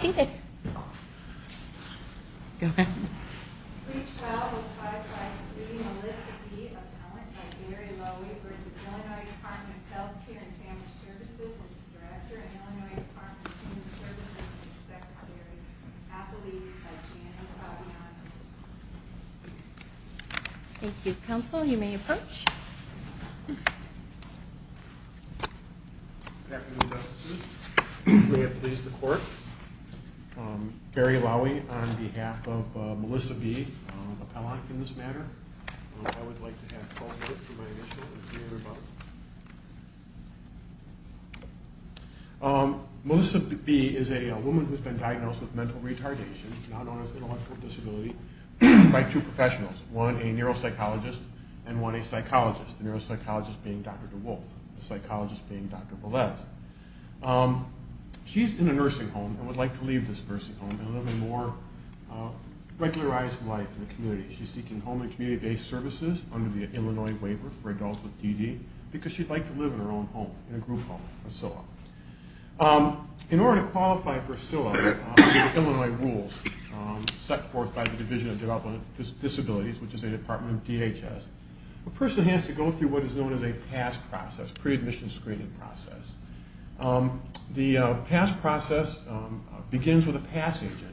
at Illinois Department of Human Services and its Secretary, Appellee Janie Cozziano. Thank you. Counsel, you may approach. Melissa B. is a woman who has been diagnosed with mental retardation, now known as intellectual and one a psychologist, the neuropsychologist being Dr. DeWolf, the psychologist being Dr. Velez. She's in a nursing home and would like to leave this nursing home and live a more regularized life in the community. She's seeking home and community-based services under the Illinois Waiver for Adults with DD, because she'd like to live in her own home, in a group home, a SILA. In order to qualify for SILA, the Illinois rules set forth by the Division of Developmental Disabilities, which is a department of DHS, a person has to go through what is known as a PASS process, pre-admission screening process. The PASS process begins with a PASS agent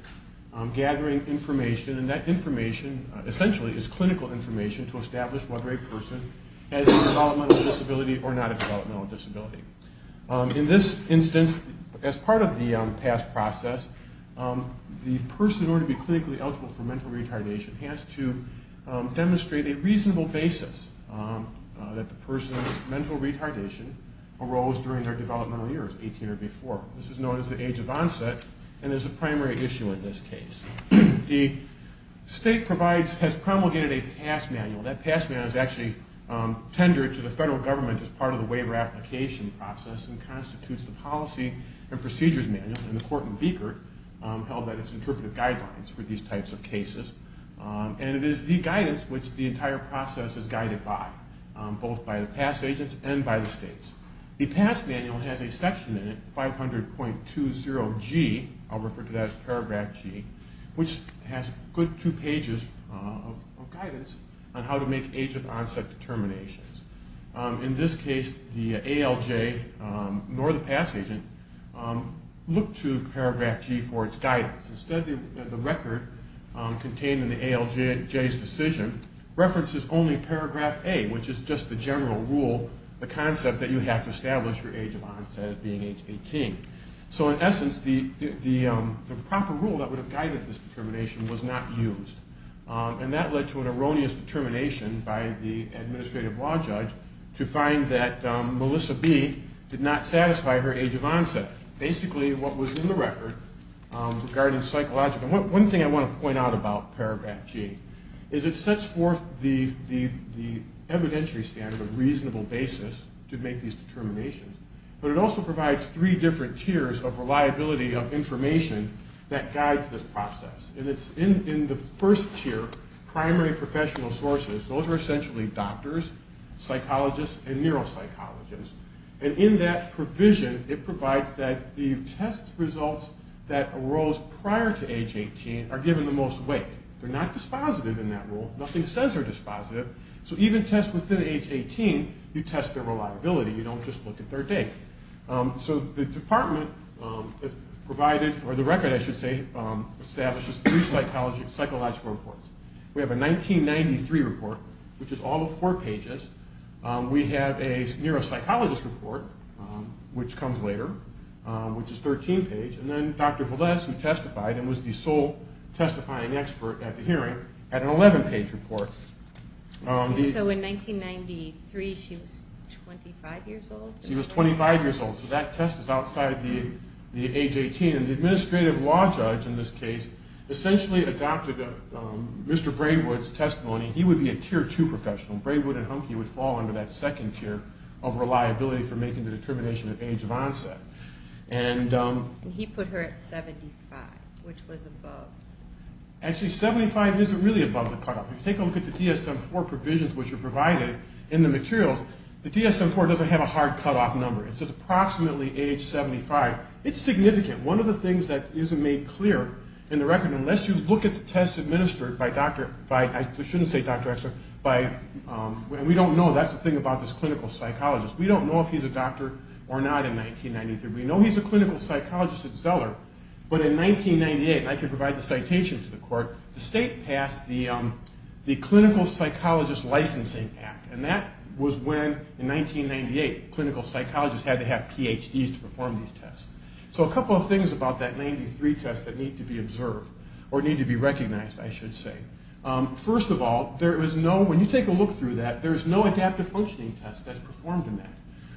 gathering information, and that information essentially is clinical information to establish whether a person has a developmental disability or not a developmental disability. In this instance, as part of the PASS process, the person, in order to be clinically eligible for mental retardation, has to demonstrate a reasonable basis that the person's mental retardation arose during their developmental years, 18 or before. This is known as the age of onset and is a primary issue in this case. The state has promulgated a PASS manual. That PASS manual is actually tendered to the federal government as part of the waiver application process and constitutes the policy and procedures manual, and the court in Beecher held that as interpretive guidelines for these types of cases. And it is the guidance which the entire process is guided by, both by the PASS agents and by the states. The PASS manual has a section in it, 500.20G, I'll refer to that as paragraph G, which has a good two pages of guidance on how to make age of onset determinations. In this case, the ALJ, nor the PASS agent, looked to paragraph G for its guidance. Instead, the record contained in the ALJ's decision references only paragraph A, which is just the general rule, the concept that you have to establish your age of onset as being age 18. So in essence, the proper rule that would have guided this determination was not used, and that led to an erroneous determination by the administrative law judge to find that Melissa B did not satisfy her age of onset. Basically, what was in the record regarding psychological... One thing I want to point out about paragraph G is it sets forth the evidentiary standard of reasonable basis to make these determinations, but it also provides three different tiers of reliability of information that guides this process. And it's in the first tier, primary professional sources. Those are essentially doctors, psychologists, and neuropsychologists. And in that provision, it provides that the test results that arose prior to age 18 are given the most weight. They're not dispositive in that rule. Nothing says they're dispositive. So even tests within age 18, you test their reliability. You don't just look at their date. So the department provided, or the record, I should say, establishes three psychological reports. We have a 1993 report, which is all of four pages. We have a neuropsychologist report, which comes later, which is 13 pages. And then Dr. Valdes, who testified and was the sole testifying expert at the hearing, had an 11-page report. So in 1993, she was 25 years old? She was 25 years old, so that test is outside the age 18. And the administrative law judge in this case essentially adopted Mr. Braywood's testimony. He would be a Tier 2 professional. Braywood and Hunke would fall under that second tier of reliability for making the determination of age of onset. And he put her at 75, which was above. Actually, 75 isn't really above the cutoff. If you take a look at the DSM-IV provisions which are provided in the materials, the DSM-IV doesn't have a hard cutoff number. It says approximately age 75. It's significant. One of the things that isn't made clear in the record, unless you look at the tests administered by Dr. X, I shouldn't say Dr. X, but we don't know. That's the thing about this clinical psychologist. We don't know if he's a doctor or not in 1993. We know he's a clinical psychologist at Zeller. But in 1998, and I can provide the citation to the court, the state passed the Clinical Psychologist Licensing Act. And that was when, in 1998, clinical psychologists had to have PhDs to perform these tests. So a couple of things about that 1993 test that need to be observed, or need to be recognized, I should say. First of all, there is no, when you take a look through that, there is no adaptive functioning test that's performed in that.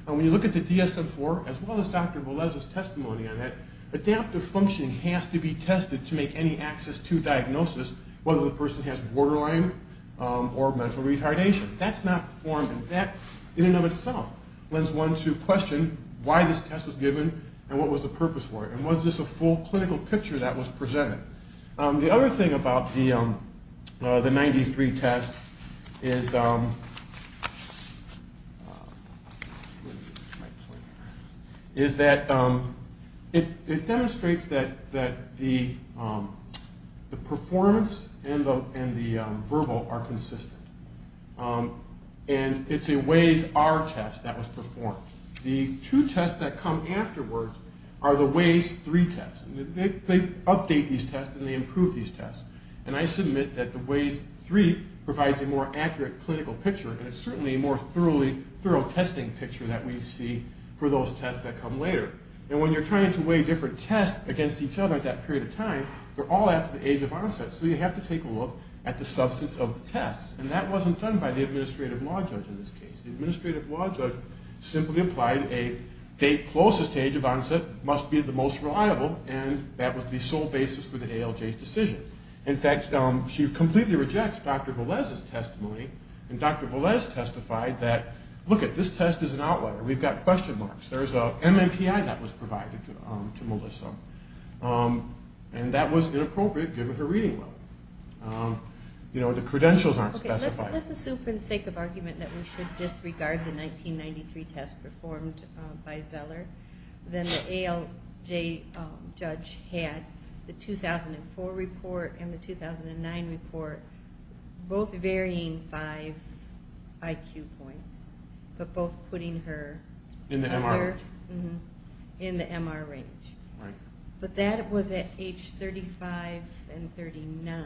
And when you look at the DSM-IV, as well as Dr. Velez's testimony on that, adaptive functioning has to be tested to make any access to diagnosis, whether the person has borderline or mental retardation. That's not performed. And that, in and of itself, lends one to question why this test was given and what was the purpose for it. And was this a full clinical picture that was presented? The other thing about the 1993 test is that it demonstrates that the performance and the verbal are consistent. And it's a Waze-R test that was performed. The two tests that come afterwards are the Waze-III tests. They update these tests and they improve these tests. And I submit that the Waze-III provides a more accurate clinical picture, and it's certainly a more thorough testing picture that we see for those tests that come later. And when you're trying to weigh different tests against each other at that period of time, they're all after the age of onset. So you have to take a look at the substance of the tests. And that wasn't done by the administrative law judge in this case. The administrative law judge simply applied a date closest to age of onset must be the most reliable, and that was the sole basis for the ALJ's decision. In fact, she completely rejects Dr. Velez's testimony. And Dr. Velez testified that, lookit, this test is an outlier. We've got question marks. There's an MMPI that was provided to Melissa. And that was inappropriate given her reading level. You know, the credentials aren't specified. Let's assume for the sake of argument that we should disregard the 1993 test performed by Zeller. Then the ALJ judge had the 2004 report and the 2009 report both varying five IQ points, but both putting her in the MR range. Right. But that was at age 35 and 39.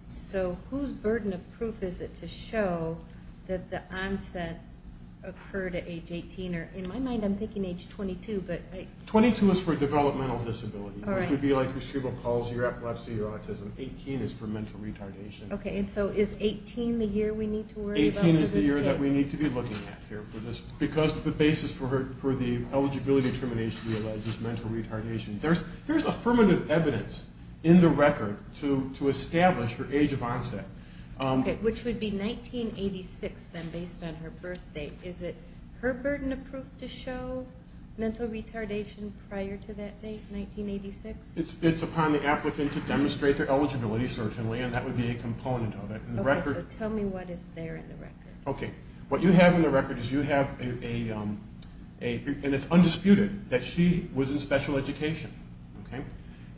So whose burden of proof is it to show that the onset occurred at age 18? In my mind, I'm thinking age 22. Twenty-two is for developmental disability, which would be like your cerebral palsy or epilepsy or autism. Eighteen is for mental retardation. Okay, and so is 18 the year we need to worry about in this case? Eighteen is the year that we need to be looking at here for this, because the basis for the eligibility determination we allege is mental retardation. There's affirmative evidence in the record to establish her age of onset. Okay, which would be 1986, then, based on her birth date. Is it her burden of proof to show mental retardation prior to that date, 1986? It's upon the applicant to demonstrate their eligibility, certainly, and that would be a component of it. Okay, what you have in the record is you have a, and it's undisputed, that she was in special education.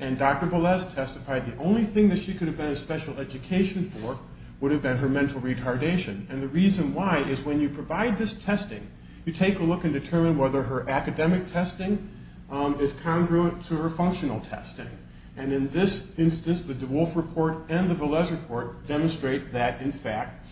And Dr. Velez testified the only thing that she could have been in special education for would have been her mental retardation. And the reason why is when you provide this testing, you take a look and determine whether her academic testing is congruent to her functional testing. And in this instance, the DeWolf report and the Velez report demonstrate that, in fact,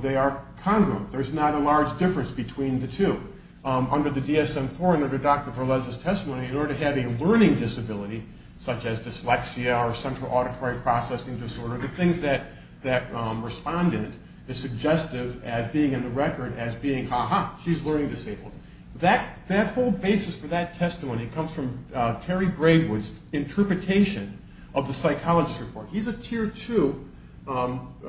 they are congruent. There's not a large difference between the two. Under the DSM-IV and under Dr. Velez's testimony, in order to have a learning disability, such as dyslexia or central auditory processing disorder, the things that respond in it is suggestive as being in the record as being, ha-ha, she's a learning disabled. That whole basis for that testimony comes from Terry Braidwood's interpretation of the psychologist report. He's a tier two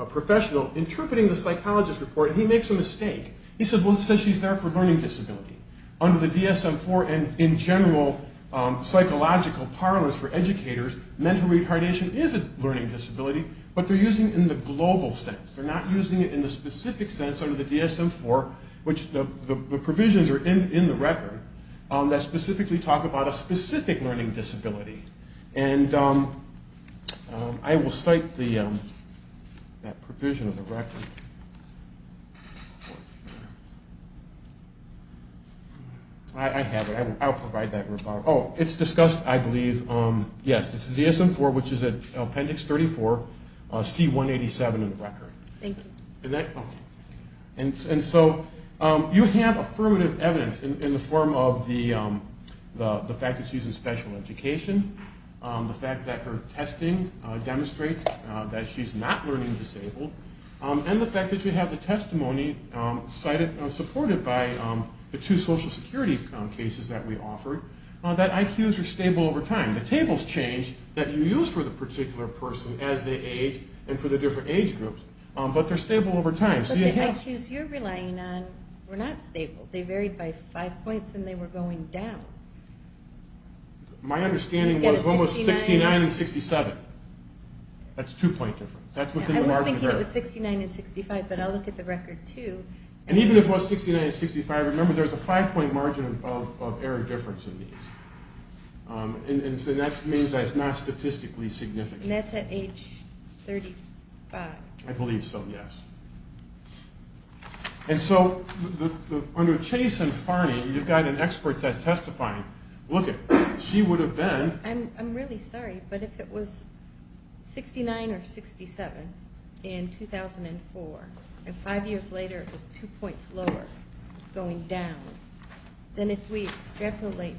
professional interpreting the psychologist report, and he makes a mistake. He says, well, it says she's there for learning disability. Under the DSM-IV and in general psychological parlance for educators, mental retardation is a learning disability, but they're using it in the global sense. They're not using it in the specific sense under the DSM-IV, which the provisions are in the record that specifically talk about a specific learning disability. And I will cite that provision of the record. I have it. I'll provide that report. Oh, it's discussed, I believe, yes, it's the DSM-IV, which is Appendix 34, C187 in the record. Thank you. And so you have affirmative evidence in the form of the fact that she's in special education, the fact that her testing demonstrates that she's not learning disabled, and the fact that you have the testimony supported by the two social security cases that we offer, that IQs are stable over time. The tables change that you use for the particular person as they age and for the different age groups, but they're stable over time. But the IQs you're relying on were not stable. They varied by five points and they were going down. My understanding was 69 and 67. That's a two-point difference. I was thinking it was 69 and 65, but I'll look at the record, too. And even if it was 69 and 65, remember there's a five-point margin of error difference in these. And that means that it's not statistically significant. And that's at age 35. I believe so, yes. And so under Chase and Farney, you've got an expert testifying. Lookit, she would have been. I'm really sorry, but if it was 69 or 67 in 2004, and five years later it was two points lower, it's going down, then if we extrapolate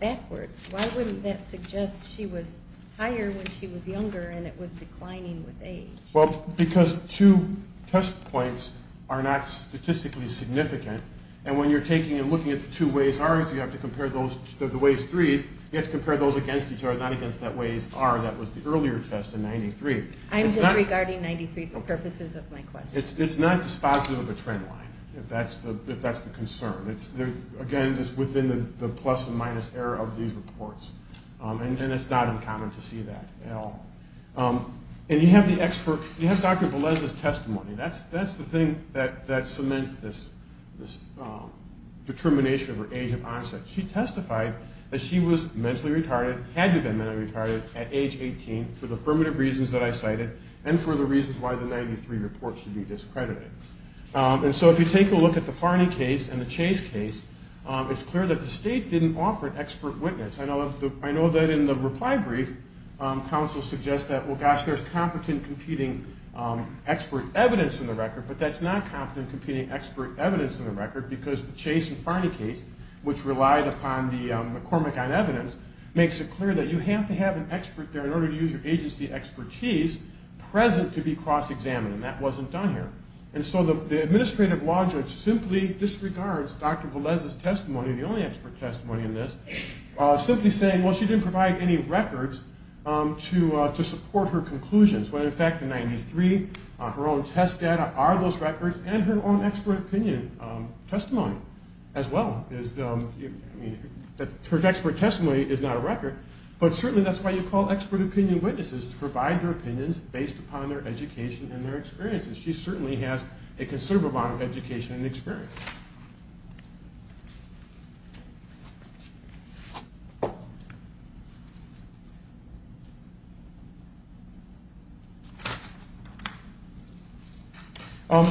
backwards, why wouldn't that suggest she was higher when she was younger and it was declining with age? Well, because two test points are not statistically significant, and when you're taking and looking at the two Waze R's, you have to compare the Waze 3s, you have to compare those against each other, not against that Waze R that was the earlier test in 93. I'm disregarding 93 for purposes of my question. It's not dispositive of a trend line, if that's the concern. Again, just within the plus and minus error of these reports. And it's not uncommon to see that at all. And you have the expert, you have Dr. Velez's testimony. That's the thing that cements this determination of her age of onset. She testified that she was mentally retarded, had to have been mentally retarded at age 18 for the affirmative reasons that I cited and for the reasons why the 93 report should be discredited. And so if you take a look at the Farney case and the Chase case, it's clear that the state didn't offer an expert witness. I know that in the reply brief, counsel suggests that, well, gosh, there's competent competing expert evidence in the record, but that's not competent competing expert evidence in the record because the Chase and Farney case, which relied upon the McCormick on evidence, makes it clear that you have to have an expert there in order to use your agency expertise present to be cross-examined. And that wasn't done here. And so the administrative law judge simply disregards Dr. Velez's testimony, the only expert testimony in this, simply saying, well, she didn't provide any records to support her conclusions. When, in fact, the 93, her own test data are those records and her own expert opinion testimony as well. Her expert testimony is not a record, but certainly that's why you call expert opinion witnesses to provide their opinions based upon their education and their experiences. She certainly has a considerable amount of education and experience.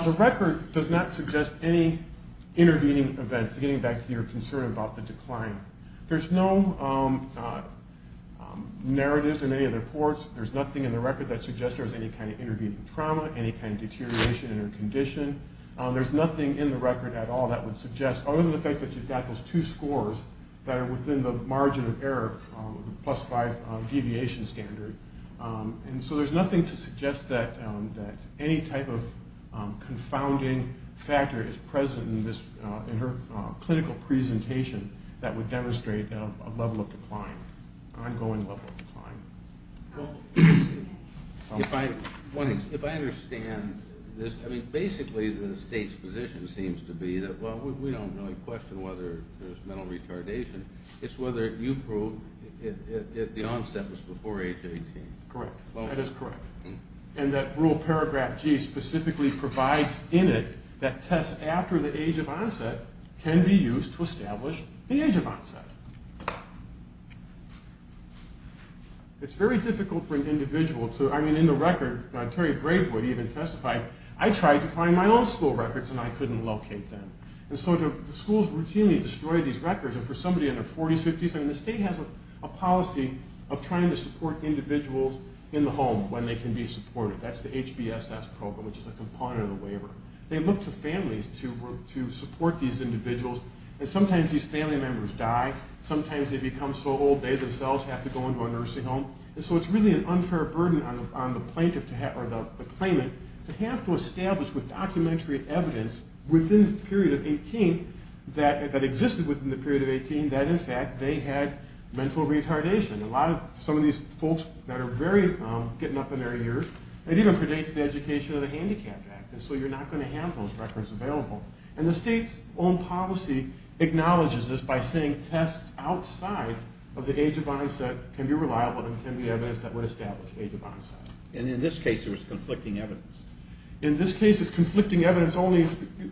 The record does not suggest any intervening events, getting back to your concern about the decline. There's no narrative in any of the reports. There's nothing in the record that suggests there was any kind of intervening trauma, any kind of deterioration in her condition. There's nothing in the record at all that would suggest, other than the fact that you've got those two scores that are within the margin of error, the plus five deviation standard. And so there's nothing to suggest that any type of confounding factor is present in her clinical presentation that would demonstrate a level of decline, ongoing level of decline. If I understand this, I mean, basically the state's position seems to be that, well, we don't really question whether there's mental retardation. It's whether you proved that the onset was before age 18. Correct. That is correct. And that rule paragraph G specifically provides in it that tests after the age of onset can be used to establish the age of onset. It's very difficult for an individual to, I mean, in the record, Terry Bravewood even testified, I tried to find my own school records and I couldn't locate them. And so the schools routinely destroy these records. And for somebody in their 40s, 50s, I mean, the state has a policy of trying to support individuals in the home when they can be supported. That's the HVSS program, which is a component of the waiver. They look to families to support these individuals. And sometimes these family members die. Sometimes they become so old they themselves have to go into a nursing home. And so it's really an unfair burden on the plaintiff or the claimant to have to establish with documentary evidence within the period of 18 that existed within the period of 18 that, in fact, they had mental retardation. Some of these folks that are getting up in their years, it even predates the education of the Handicap Act. And so you're not going to have those records available. And the state's own policy acknowledges this by saying tests outside of the age of onset can be reliable and can be evidence that would establish the age of onset. And in this case, it was conflicting evidence. In this case, it's conflicting evidence only.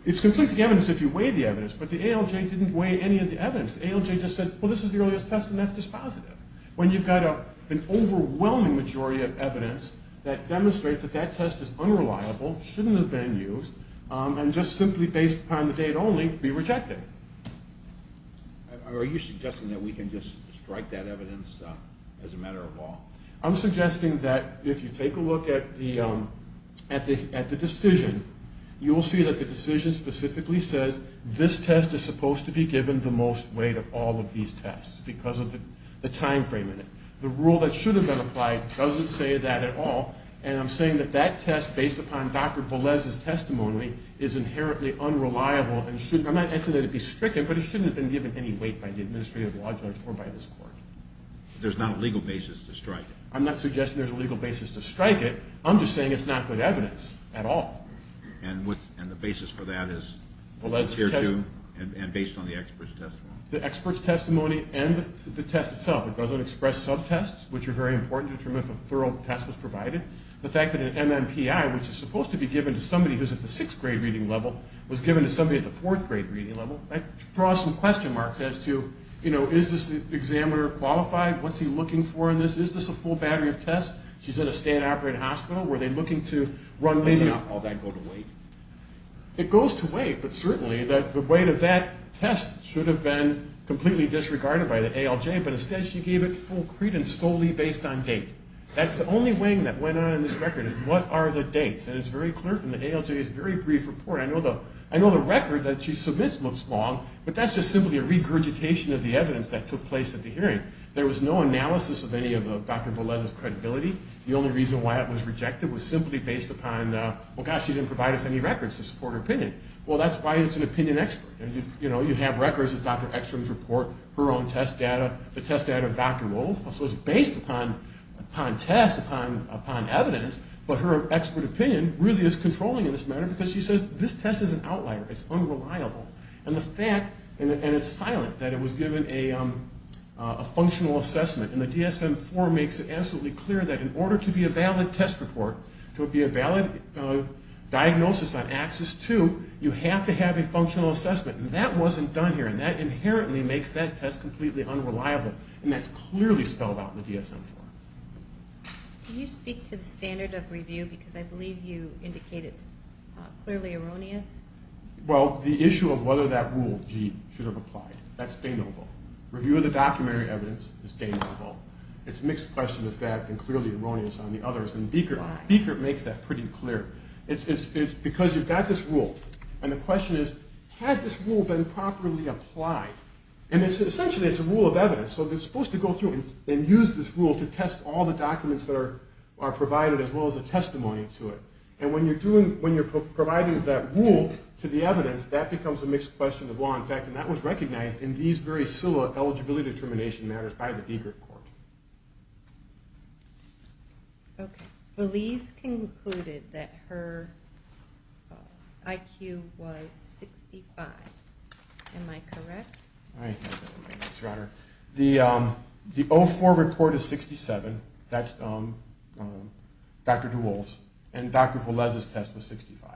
It's conflicting evidence if you weigh the evidence, but the ALJ didn't weigh any of the evidence. The ALJ just said, well, this is the earliest test, and that's just positive. When you've got an overwhelming majority of evidence that demonstrates that that test is unreliable, shouldn't have been used, and just simply based upon the date only, be rejected. Are you suggesting that we can just strike that evidence as a matter of law? I'm suggesting that if you take a look at the decision, you will see that the decision specifically says this test is supposed to be given the most weight of all of these tests because of the time frame in it. The rule that should have been applied doesn't say that at all, and I'm saying that that test, based upon Dr. Velez's testimony, is inherently unreliable. I'm not asking that it be stricken, but it shouldn't have been given any weight by the administrative law judge or by this court. There's not a legal basis to strike it? I'm not suggesting there's a legal basis to strike it. I'm just saying it's not good evidence at all. And the basis for that is based on the expert's testimony? The expert's testimony and the test itself. It doesn't express subtests, which are very important to determine if a thorough test was provided. The fact that an MMPI, which is supposed to be given to somebody who's at the 6th grade reading level, was given to somebody at the 4th grade reading level, that draws some question marks as to, you know, is this examiner qualified? What's he looking for in this? Is this a full battery of tests? She's in a state-operated hospital. Were they looking to run this in a... Does all that go to weight? It goes to weight, but certainly the weight of that test should have been completely disregarded by the ALJ, but instead she gave it full credence solely based on date. That's the only weighing that went on in this record is what are the dates, and it's very clear from the ALJ's very brief report. I know the record that she submits looks long, but that's just simply a regurgitation of the evidence that took place at the hearing. There was no analysis of any of Dr. Velez's credibility. The only reason why it was rejected was simply based upon, well, gosh, she didn't provide us any records to support her opinion. Well, that's why it's an opinion expert. You know, you have records of Dr. Ekstrom's report, her own test data, the test data of Dr. Wolf. So it's based upon tests, upon evidence, but her expert opinion really is controlling in this matter because she says this test is an outlier, it's unreliable. And the fact, and it's silent, that it was given a functional assessment, and the DSM-IV makes it absolutely clear that in order to be a valid test report, to be a valid diagnosis on Axis II, you have to have a functional assessment, and that wasn't done here, and that inherently makes that test completely unreliable, and that's clearly spelled out in the DSM-IV. Can you speak to the standard of review? Because I believe you indicate it's clearly erroneous. Well, the issue of whether that rule, G, should have applied, that's Danilovo. Review of the documentary evidence is Danilovo. It's a mixed question of fact and clearly erroneous on the others, and Biekert makes that pretty clear. It's because you've got this rule, and the question is, had this rule been properly applied? And essentially it's a rule of evidence, so it's supposed to go through and use this rule to test all the documents that are provided as well as a testimony to it. And when you're providing that rule to the evidence, that becomes a mixed question of law and fact, and that was recognized in these very SILA eligibility determination matters by the Biekert Court. Okay. Valise concluded that her IQ was 65. Am I correct? I think so, Your Honor. The O4 report is 67. That's Dr. DeWolfe's. And Dr. Valise's test was 65.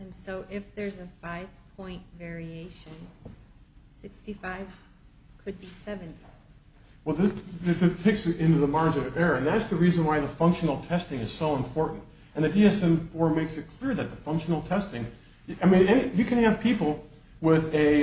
And so if there's a five-point variation, 65 could be 70. Well, that takes you into the margin of error, and that's the reason why the functional testing is so important. And the DSM-IV makes it clear that the functional testing ñ I mean, you can have people with a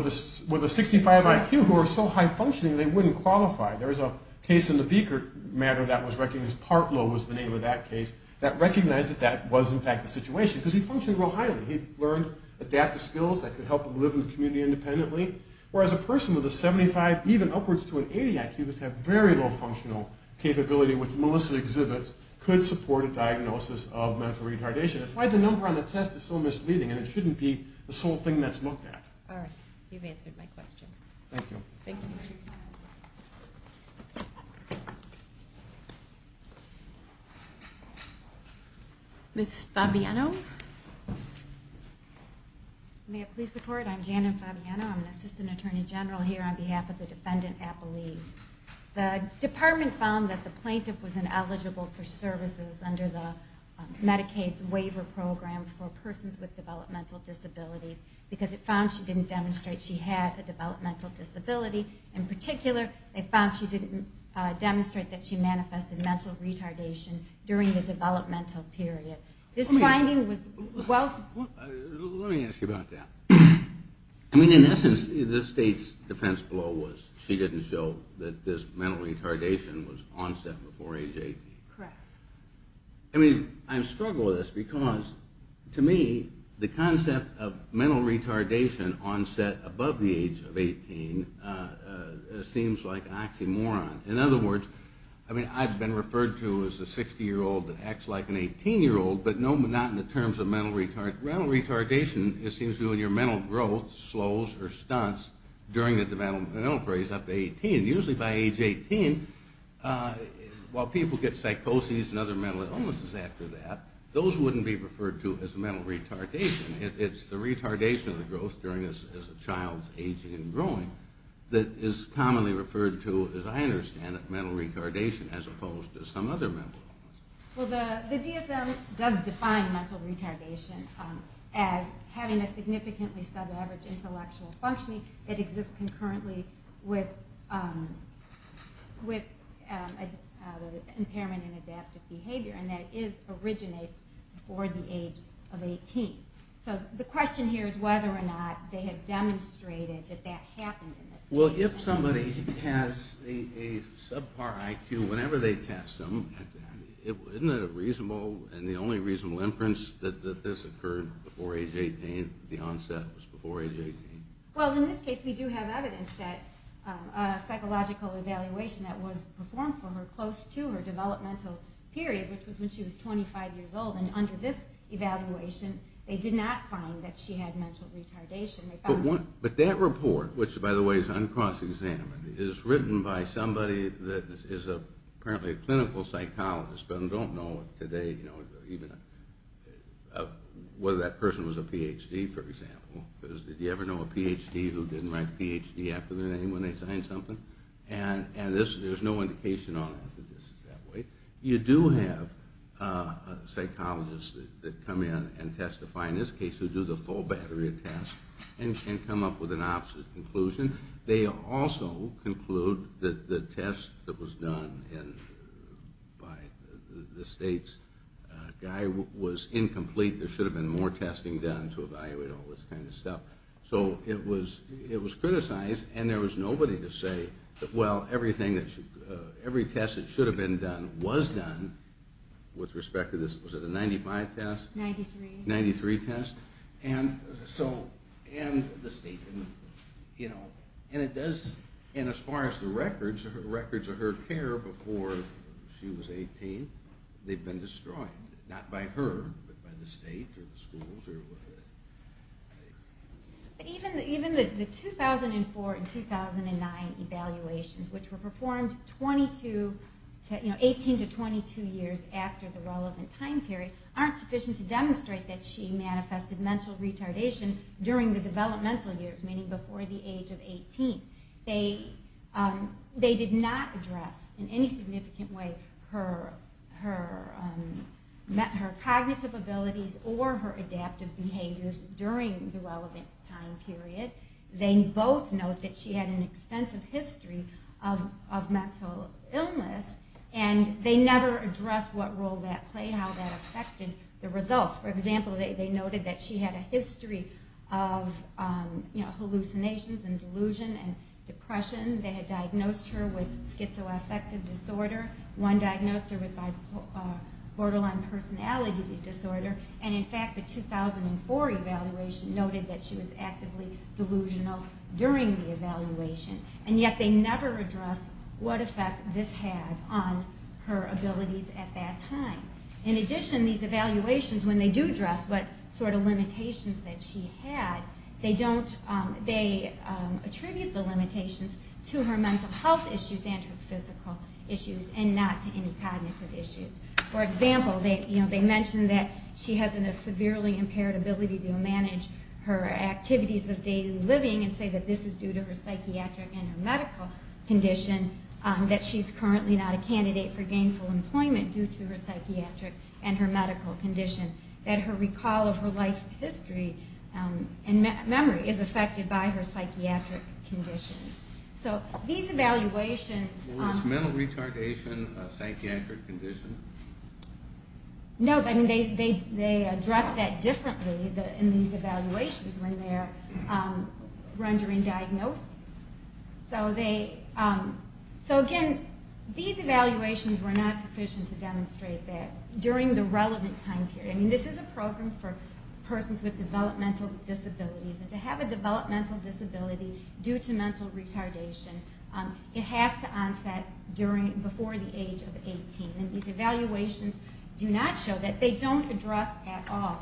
65 IQ who are so high-functioning they wouldn't qualify. There's a case in the Biekert matter that was recognized, Partlow was the name of that case, that recognized that that was in fact the situation because he functioned real highly. He learned adaptive skills that could help him live in the community independently. Whereas a person with a 75, even upwards to an 80 IQ, would have very low functional capability, which Melissa exhibits could support a diagnosis of mental retardation. That's why the number on the test is so misleading, and it shouldn't be the sole thing that's looked at. All right. You've answered my question. Thank you. Thank you for your time. Ms. Fabiano? May I please report? I'm Janet Fabiano. I'm an assistant attorney general here on behalf of the Defendant Appellees. The department found that the plaintiff was ineligible for services under the Medicaid waiver program for persons with developmental disabilities because it found she didn't demonstrate that she had a developmental disability. In particular, it found she didn't demonstrate that she manifested mental retardation during the developmental period. This finding was well- Let me ask you about that. I mean, in essence, the state's defense below was she didn't show that this mental retardation was onset before age 80. Correct. I mean, I struggle with this because, to me, the concept of mental retardation onset above the age of 18 seems like an oxymoron. In other words, I mean, I've been referred to as a 60-year-old that acts like an 18-year-old, but not in the terms of mental retardation. Mental retardation, it seems to me, when your mental growth slows or stunts during the developmental phase up to 18. Usually by age 18, while people get psychoses and other mental illnesses after that, those wouldn't be referred to as mental retardation. It's the retardation of the growth during a child's aging and growing that is commonly referred to, as I understand it, mental retardation as opposed to some other mental illness. Well, the DSM does define mental retardation as having a significantly sub-average intellectual functioning that exists concurrently with impairment in adaptive behavior, and that originates before the age of 18. So the question here is whether or not they have demonstrated that that happened in this case. Well, if somebody has a subpar IQ, whenever they test them, isn't it reasonable, and the only reasonable inference, that this occurred before age 18, the onset was before age 18? Well, in this case, we do have evidence that a psychological evaluation that was performed for her close to her developmental period, which was when she was 25 years old, and under this evaluation, they did not find that she had mental retardation. But that report, which, by the way, is uncross-examined, is written by somebody that is apparently a clinical psychologist, but I don't know today whether that person was a Ph.D., for example. Did you ever know a Ph.D. who didn't write Ph.D. after their name when they signed something? And there's no indication on it that this is that way. You do have psychologists that come in and testify in this case who do the full battery of tests and come up with an opposite conclusion. They also conclude that the test that was done by the state's guy was incomplete. There should have been more testing done to evaluate all this kind of stuff. So it was criticized, and there was nobody to say, well, every test that should have been done was done with respect to this. Was it a 95 test? 93. 93 test. And as far as the records of her care before she was 18, they've been destroyed. Not by her, but by the state or the schools. Even the 2004 and 2009 evaluations, which were performed 18 to 22 years after the relevant time period, aren't sufficient to demonstrate that she manifested mental retardation during the developmental years, meaning before the age of 18. They did not address in any significant way her cognitive abilities or her adaptive behaviors during the relevant time period. They both note that she had an extensive history of mental illness, and they never addressed what role that played, how that affected the results. For example, they noted that she had a history of hallucinations and delusion and depression. They had diagnosed her with schizoaffective disorder. One diagnosed her with borderline personality disorder. And in fact, the 2004 evaluation noted that she was actively delusional during the evaluation. And yet they never addressed what effect this had on her abilities at that time. In addition, these evaluations, when they do address what sort of limitations that she had, they attribute the limitations to her mental health issues and her physical issues and not to any cognitive issues. For example, they mention that she has a severely impaired ability to manage her activities of daily living and say that this is due to her psychiatric and her medical condition, that she's currently not a candidate for gainful employment due to her psychiatric and her medical condition, that her recall of her life history and memory is affected by her psychiatric condition. So these evaluations... Was mental retardation a psychiatric condition? No. I mean, they address that differently in these evaluations when they're rendering diagnoses. So again, these evaluations were not sufficient to demonstrate that during the relevant time period. I mean, this is a program for persons with developmental disabilities. And to have a developmental disability due to mental retardation, it has to onset before the age of 18. And these evaluations do not show that. They don't address at all her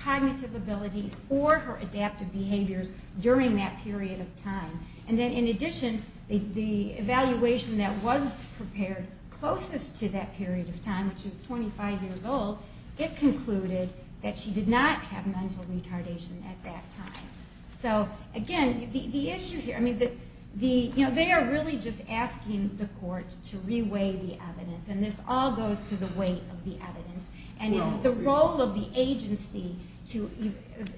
cognitive abilities or her adaptive behaviors during that period of time. And then in addition, the evaluation that was prepared closest to that period of time, when she was 25 years old, it concluded that she did not have mental retardation at that time. So again, the issue here... They are really just asking the court to re-weigh the evidence. And this all goes to the weight of the evidence. And it's the role of the agency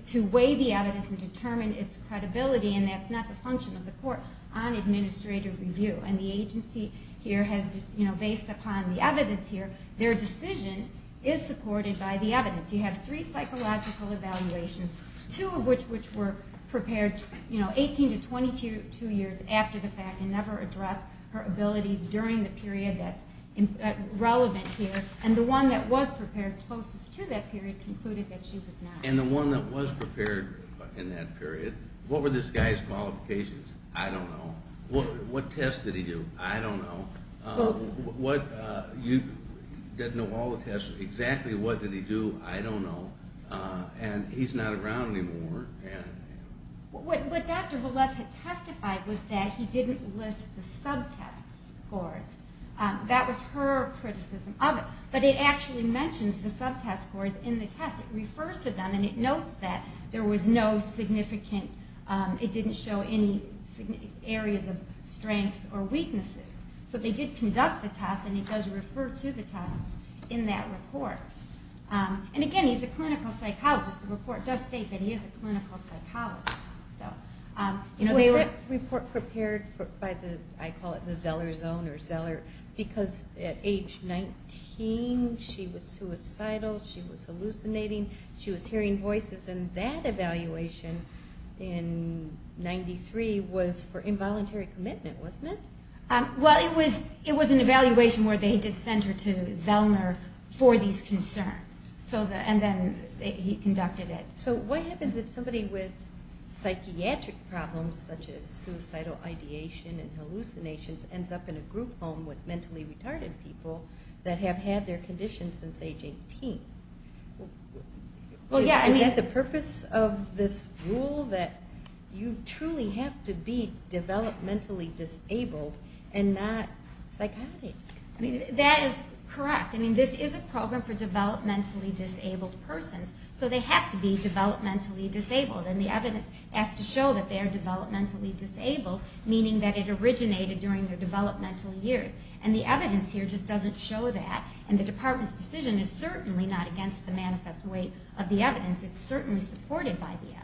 to weigh the evidence and determine its credibility, and that's not the function of the court on administrative review. And the agency here has, based upon the evidence here, their decision is supported by the evidence. You have three psychological evaluations, two of which were prepared 18 to 22 years after the fact and never addressed her abilities during the period that's relevant here. And the one that was prepared closest to that period concluded that she was not. And the one that was prepared in that period, what were this guy's qualifications? I don't know. What test did he do? I don't know. You didn't know all the tests. Exactly what did he do? I don't know. And he's not around anymore. What Dr. Velez had testified was that he didn't list the sub-test scores. That was her criticism of it. But it actually mentions the sub-test scores in the test. It refers to them, and it notes that there was no significant... It didn't show any areas of strengths or weaknesses. But they did conduct the test, and it does refer to the test in that report. And, again, he's a clinical psychologist. The report does state that he is a clinical psychologist. Was that report prepared by the, I call it the Zeller zone or Zeller, because at age 19 she was suicidal, she was hallucinating, she was hearing voices, and that evaluation in 93 was for involuntary commitment, wasn't it? Well, it was an evaluation where they did send her to Zellner for these concerns. And then he conducted it. So what happens if somebody with psychiatric problems, such as suicidal ideation and hallucinations, ends up in a group home with mentally retarded people that have had their condition since age 18? Well, yeah, I mean... Is that the purpose of this rule, that you truly have to be developmentally disabled and not psychotic? That is correct. I mean, this is a program for developmentally disabled persons, so they have to be developmentally disabled. And the evidence has to show that they are developmentally disabled, meaning that it originated during their developmental years. And the evidence here just doesn't show that, and the department's decision is certainly not against the manifest way of the evidence. It's certainly supported by the evidence.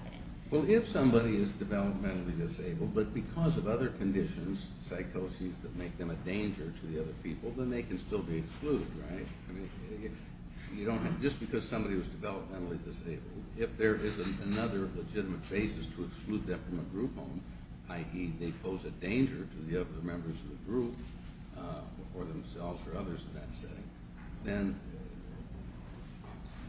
Well, if somebody is developmentally disabled, but because of other conditions, psychoses, that make them a danger to the other people, then they can still be excluded, right? I mean, if you don't have... Just because somebody was developmentally disabled, if there isn't another legitimate basis to exclude them from a group home, i.e. they pose a danger to the other members of the group or themselves or others in that setting, then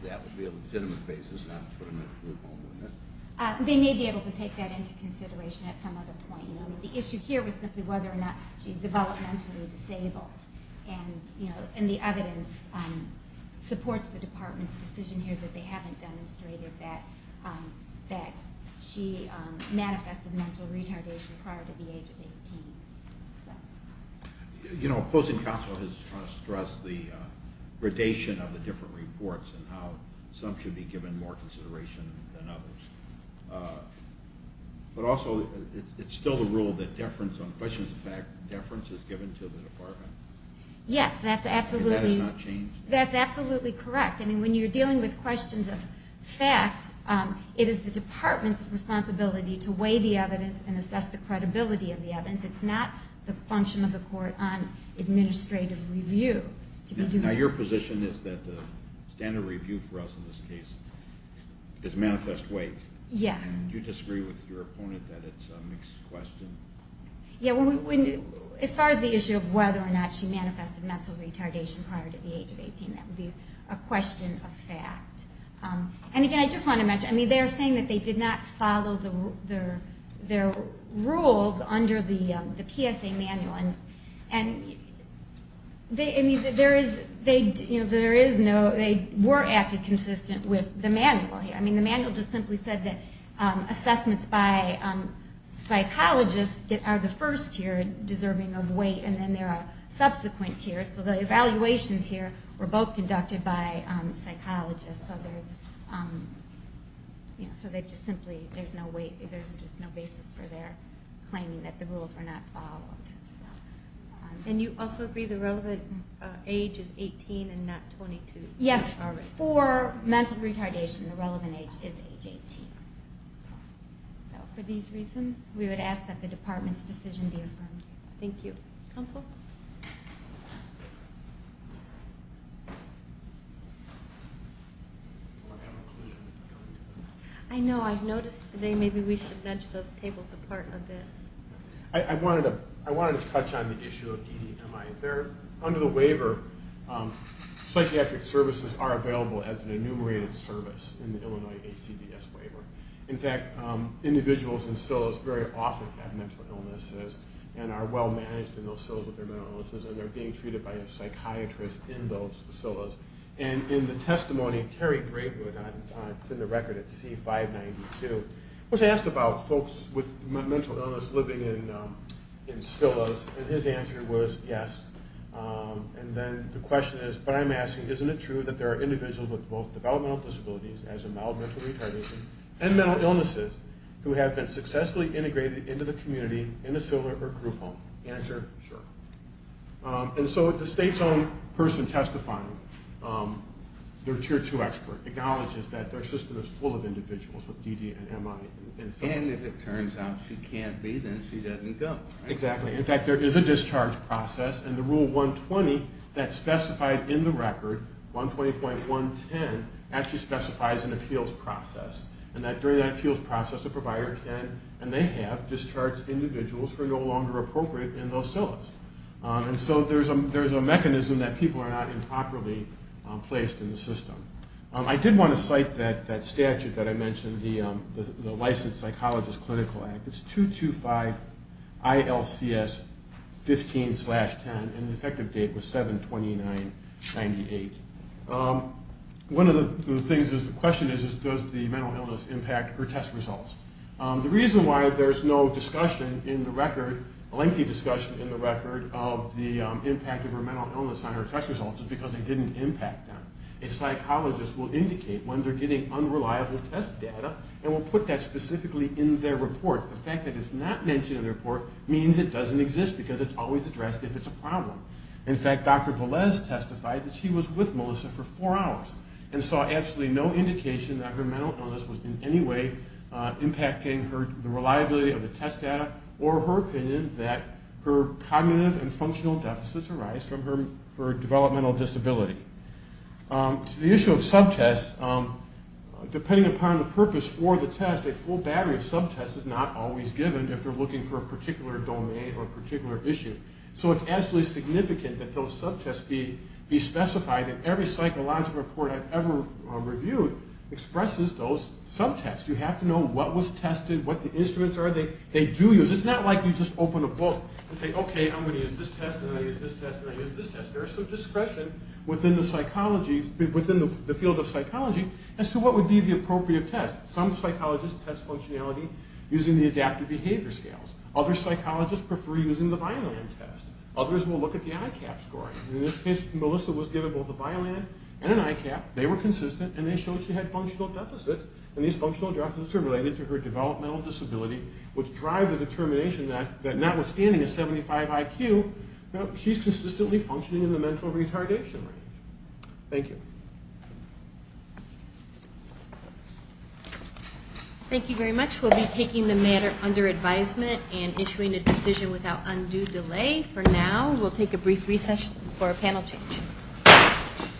that would be a legitimate basis not to put them in a group home, wouldn't it? They may be able to take that into consideration at some other point. I mean, the issue here was simply whether or not she's developmentally disabled. And the evidence supports the department's decision here that they haven't demonstrated that she manifested mental retardation prior to the age of 18. You know, opposing counsel has stressed the gradation of the different reports and how some should be given more consideration than others. But also, it's still the rule that deference on questions of fact, deference is given to the department. Yes, that's absolutely correct. I mean, when you're dealing with questions of fact, it is the department's responsibility to weigh the evidence and assess the credibility of the evidence. It's not the function of the court on administrative review. Now, your position is that standard review for us in this case is manifest weight. Yes. Do you disagree with your opponent that it's a mixed question? Yeah, as far as the issue of whether or not she manifested mental retardation prior to the age of 18, that would be a question of fact. And again, I just want to mention, I mean, they're saying that they did not follow their rules under the PSA manual. And there is no, they were acting consistent with the manual here. I mean, the manual just simply said that assessments by psychologists are the first tier deserving of weight, and then there are subsequent tiers. So the evaluations here were both conducted by psychologists. So there's, you know, so they just simply, there's no weight, claiming that the rules were not followed. And you also agree the relevant age is 18 and not 22? Yes. For mental retardation, the relevant age is age 18. So for these reasons, we would ask that the department's decision be affirmed. Thank you. Counsel? I know, I've noticed today maybe we should nudge those tables apart a bit. I wanted to touch on the issue of EDMI. Under the waiver, psychiatric services are available as an enumerated service in the Illinois HCBS waiver. In fact, individuals in SILAs very often have mental illnesses and are well-managed in those SILAs, but they're not considered as an enumerated service. And they're being treated by a psychiatrist in those SILAs. And in the testimony of Kerry Bravewood, it's in the record at C-592, was asked about folks with mental illness living in SILAs, and his answer was yes. And then the question is, but I'm asking, isn't it true that there are individuals with both developmental disabilities as a mild mental retardation and mental illnesses who have been successfully integrated into the community in a SILA or group home? Answer, sure. And so the state's own person testifying, their Tier 2 expert, acknowledges that their system is full of individuals with DD and MI. And if it turns out she can't be, then she doesn't go. Exactly. In fact, there is a discharge process, and the Rule 120 that's specified in the record, 120.110, actually specifies an appeals process. And during that appeals process, the provider can, and they have, And so there's a mechanism that people are not improperly placed in the system. I did want to cite that statute that I mentioned, the Licensed Psychologist Clinical Act. It's 225-ILCS-15-10, and the effective date was 7-29-98. One of the things is, the question is, does the mental illness impact her test results? The reason why there's no discussion in the record, lengthy discussion in the record of the impact of her mental illness on her test results is because it didn't impact them. A psychologist will indicate when they're getting unreliable test data and will put that specifically in their report. The fact that it's not mentioned in the report means it doesn't exist because it's always addressed if it's a problem. In fact, Dr. Velez testified that she was with Melissa for four hours and saw absolutely no indication that her mental illness was in any way impacting the reliability of the test data or her opinion that her cognitive and functional deficits arise from her developmental disability. The issue of subtests, depending upon the purpose for the test, a full battery of subtests is not always given if they're looking for a particular domain or a particular issue. So it's absolutely significant that those subtests be specified and every psychological report I've ever reviewed expresses those subtests. You have to know what was tested, what the instruments are they do use. It's not like you just open a book and say, okay, I'm going to use this test and I'm going to use this test and I'm going to use this test. There is some discretion within the field of psychology as to what would be the appropriate test. Some psychologists test functionality using the adaptive behavior scales. Other psychologists prefer using the Vineland test. Others will look at the ICAP scoring. In this case, Melissa was given both a Vineland and an ICAP. They were consistent and they showed she had functional deficits and these functional deficits are related to her developmental disability which drive the determination that notwithstanding a 75 IQ, she's consistently functioning in the mental retardation range. Thank you. Thank you very much. We'll be taking the matter under advisement and issuing a decision without undue delay for now. We'll take a brief recess for a panel change.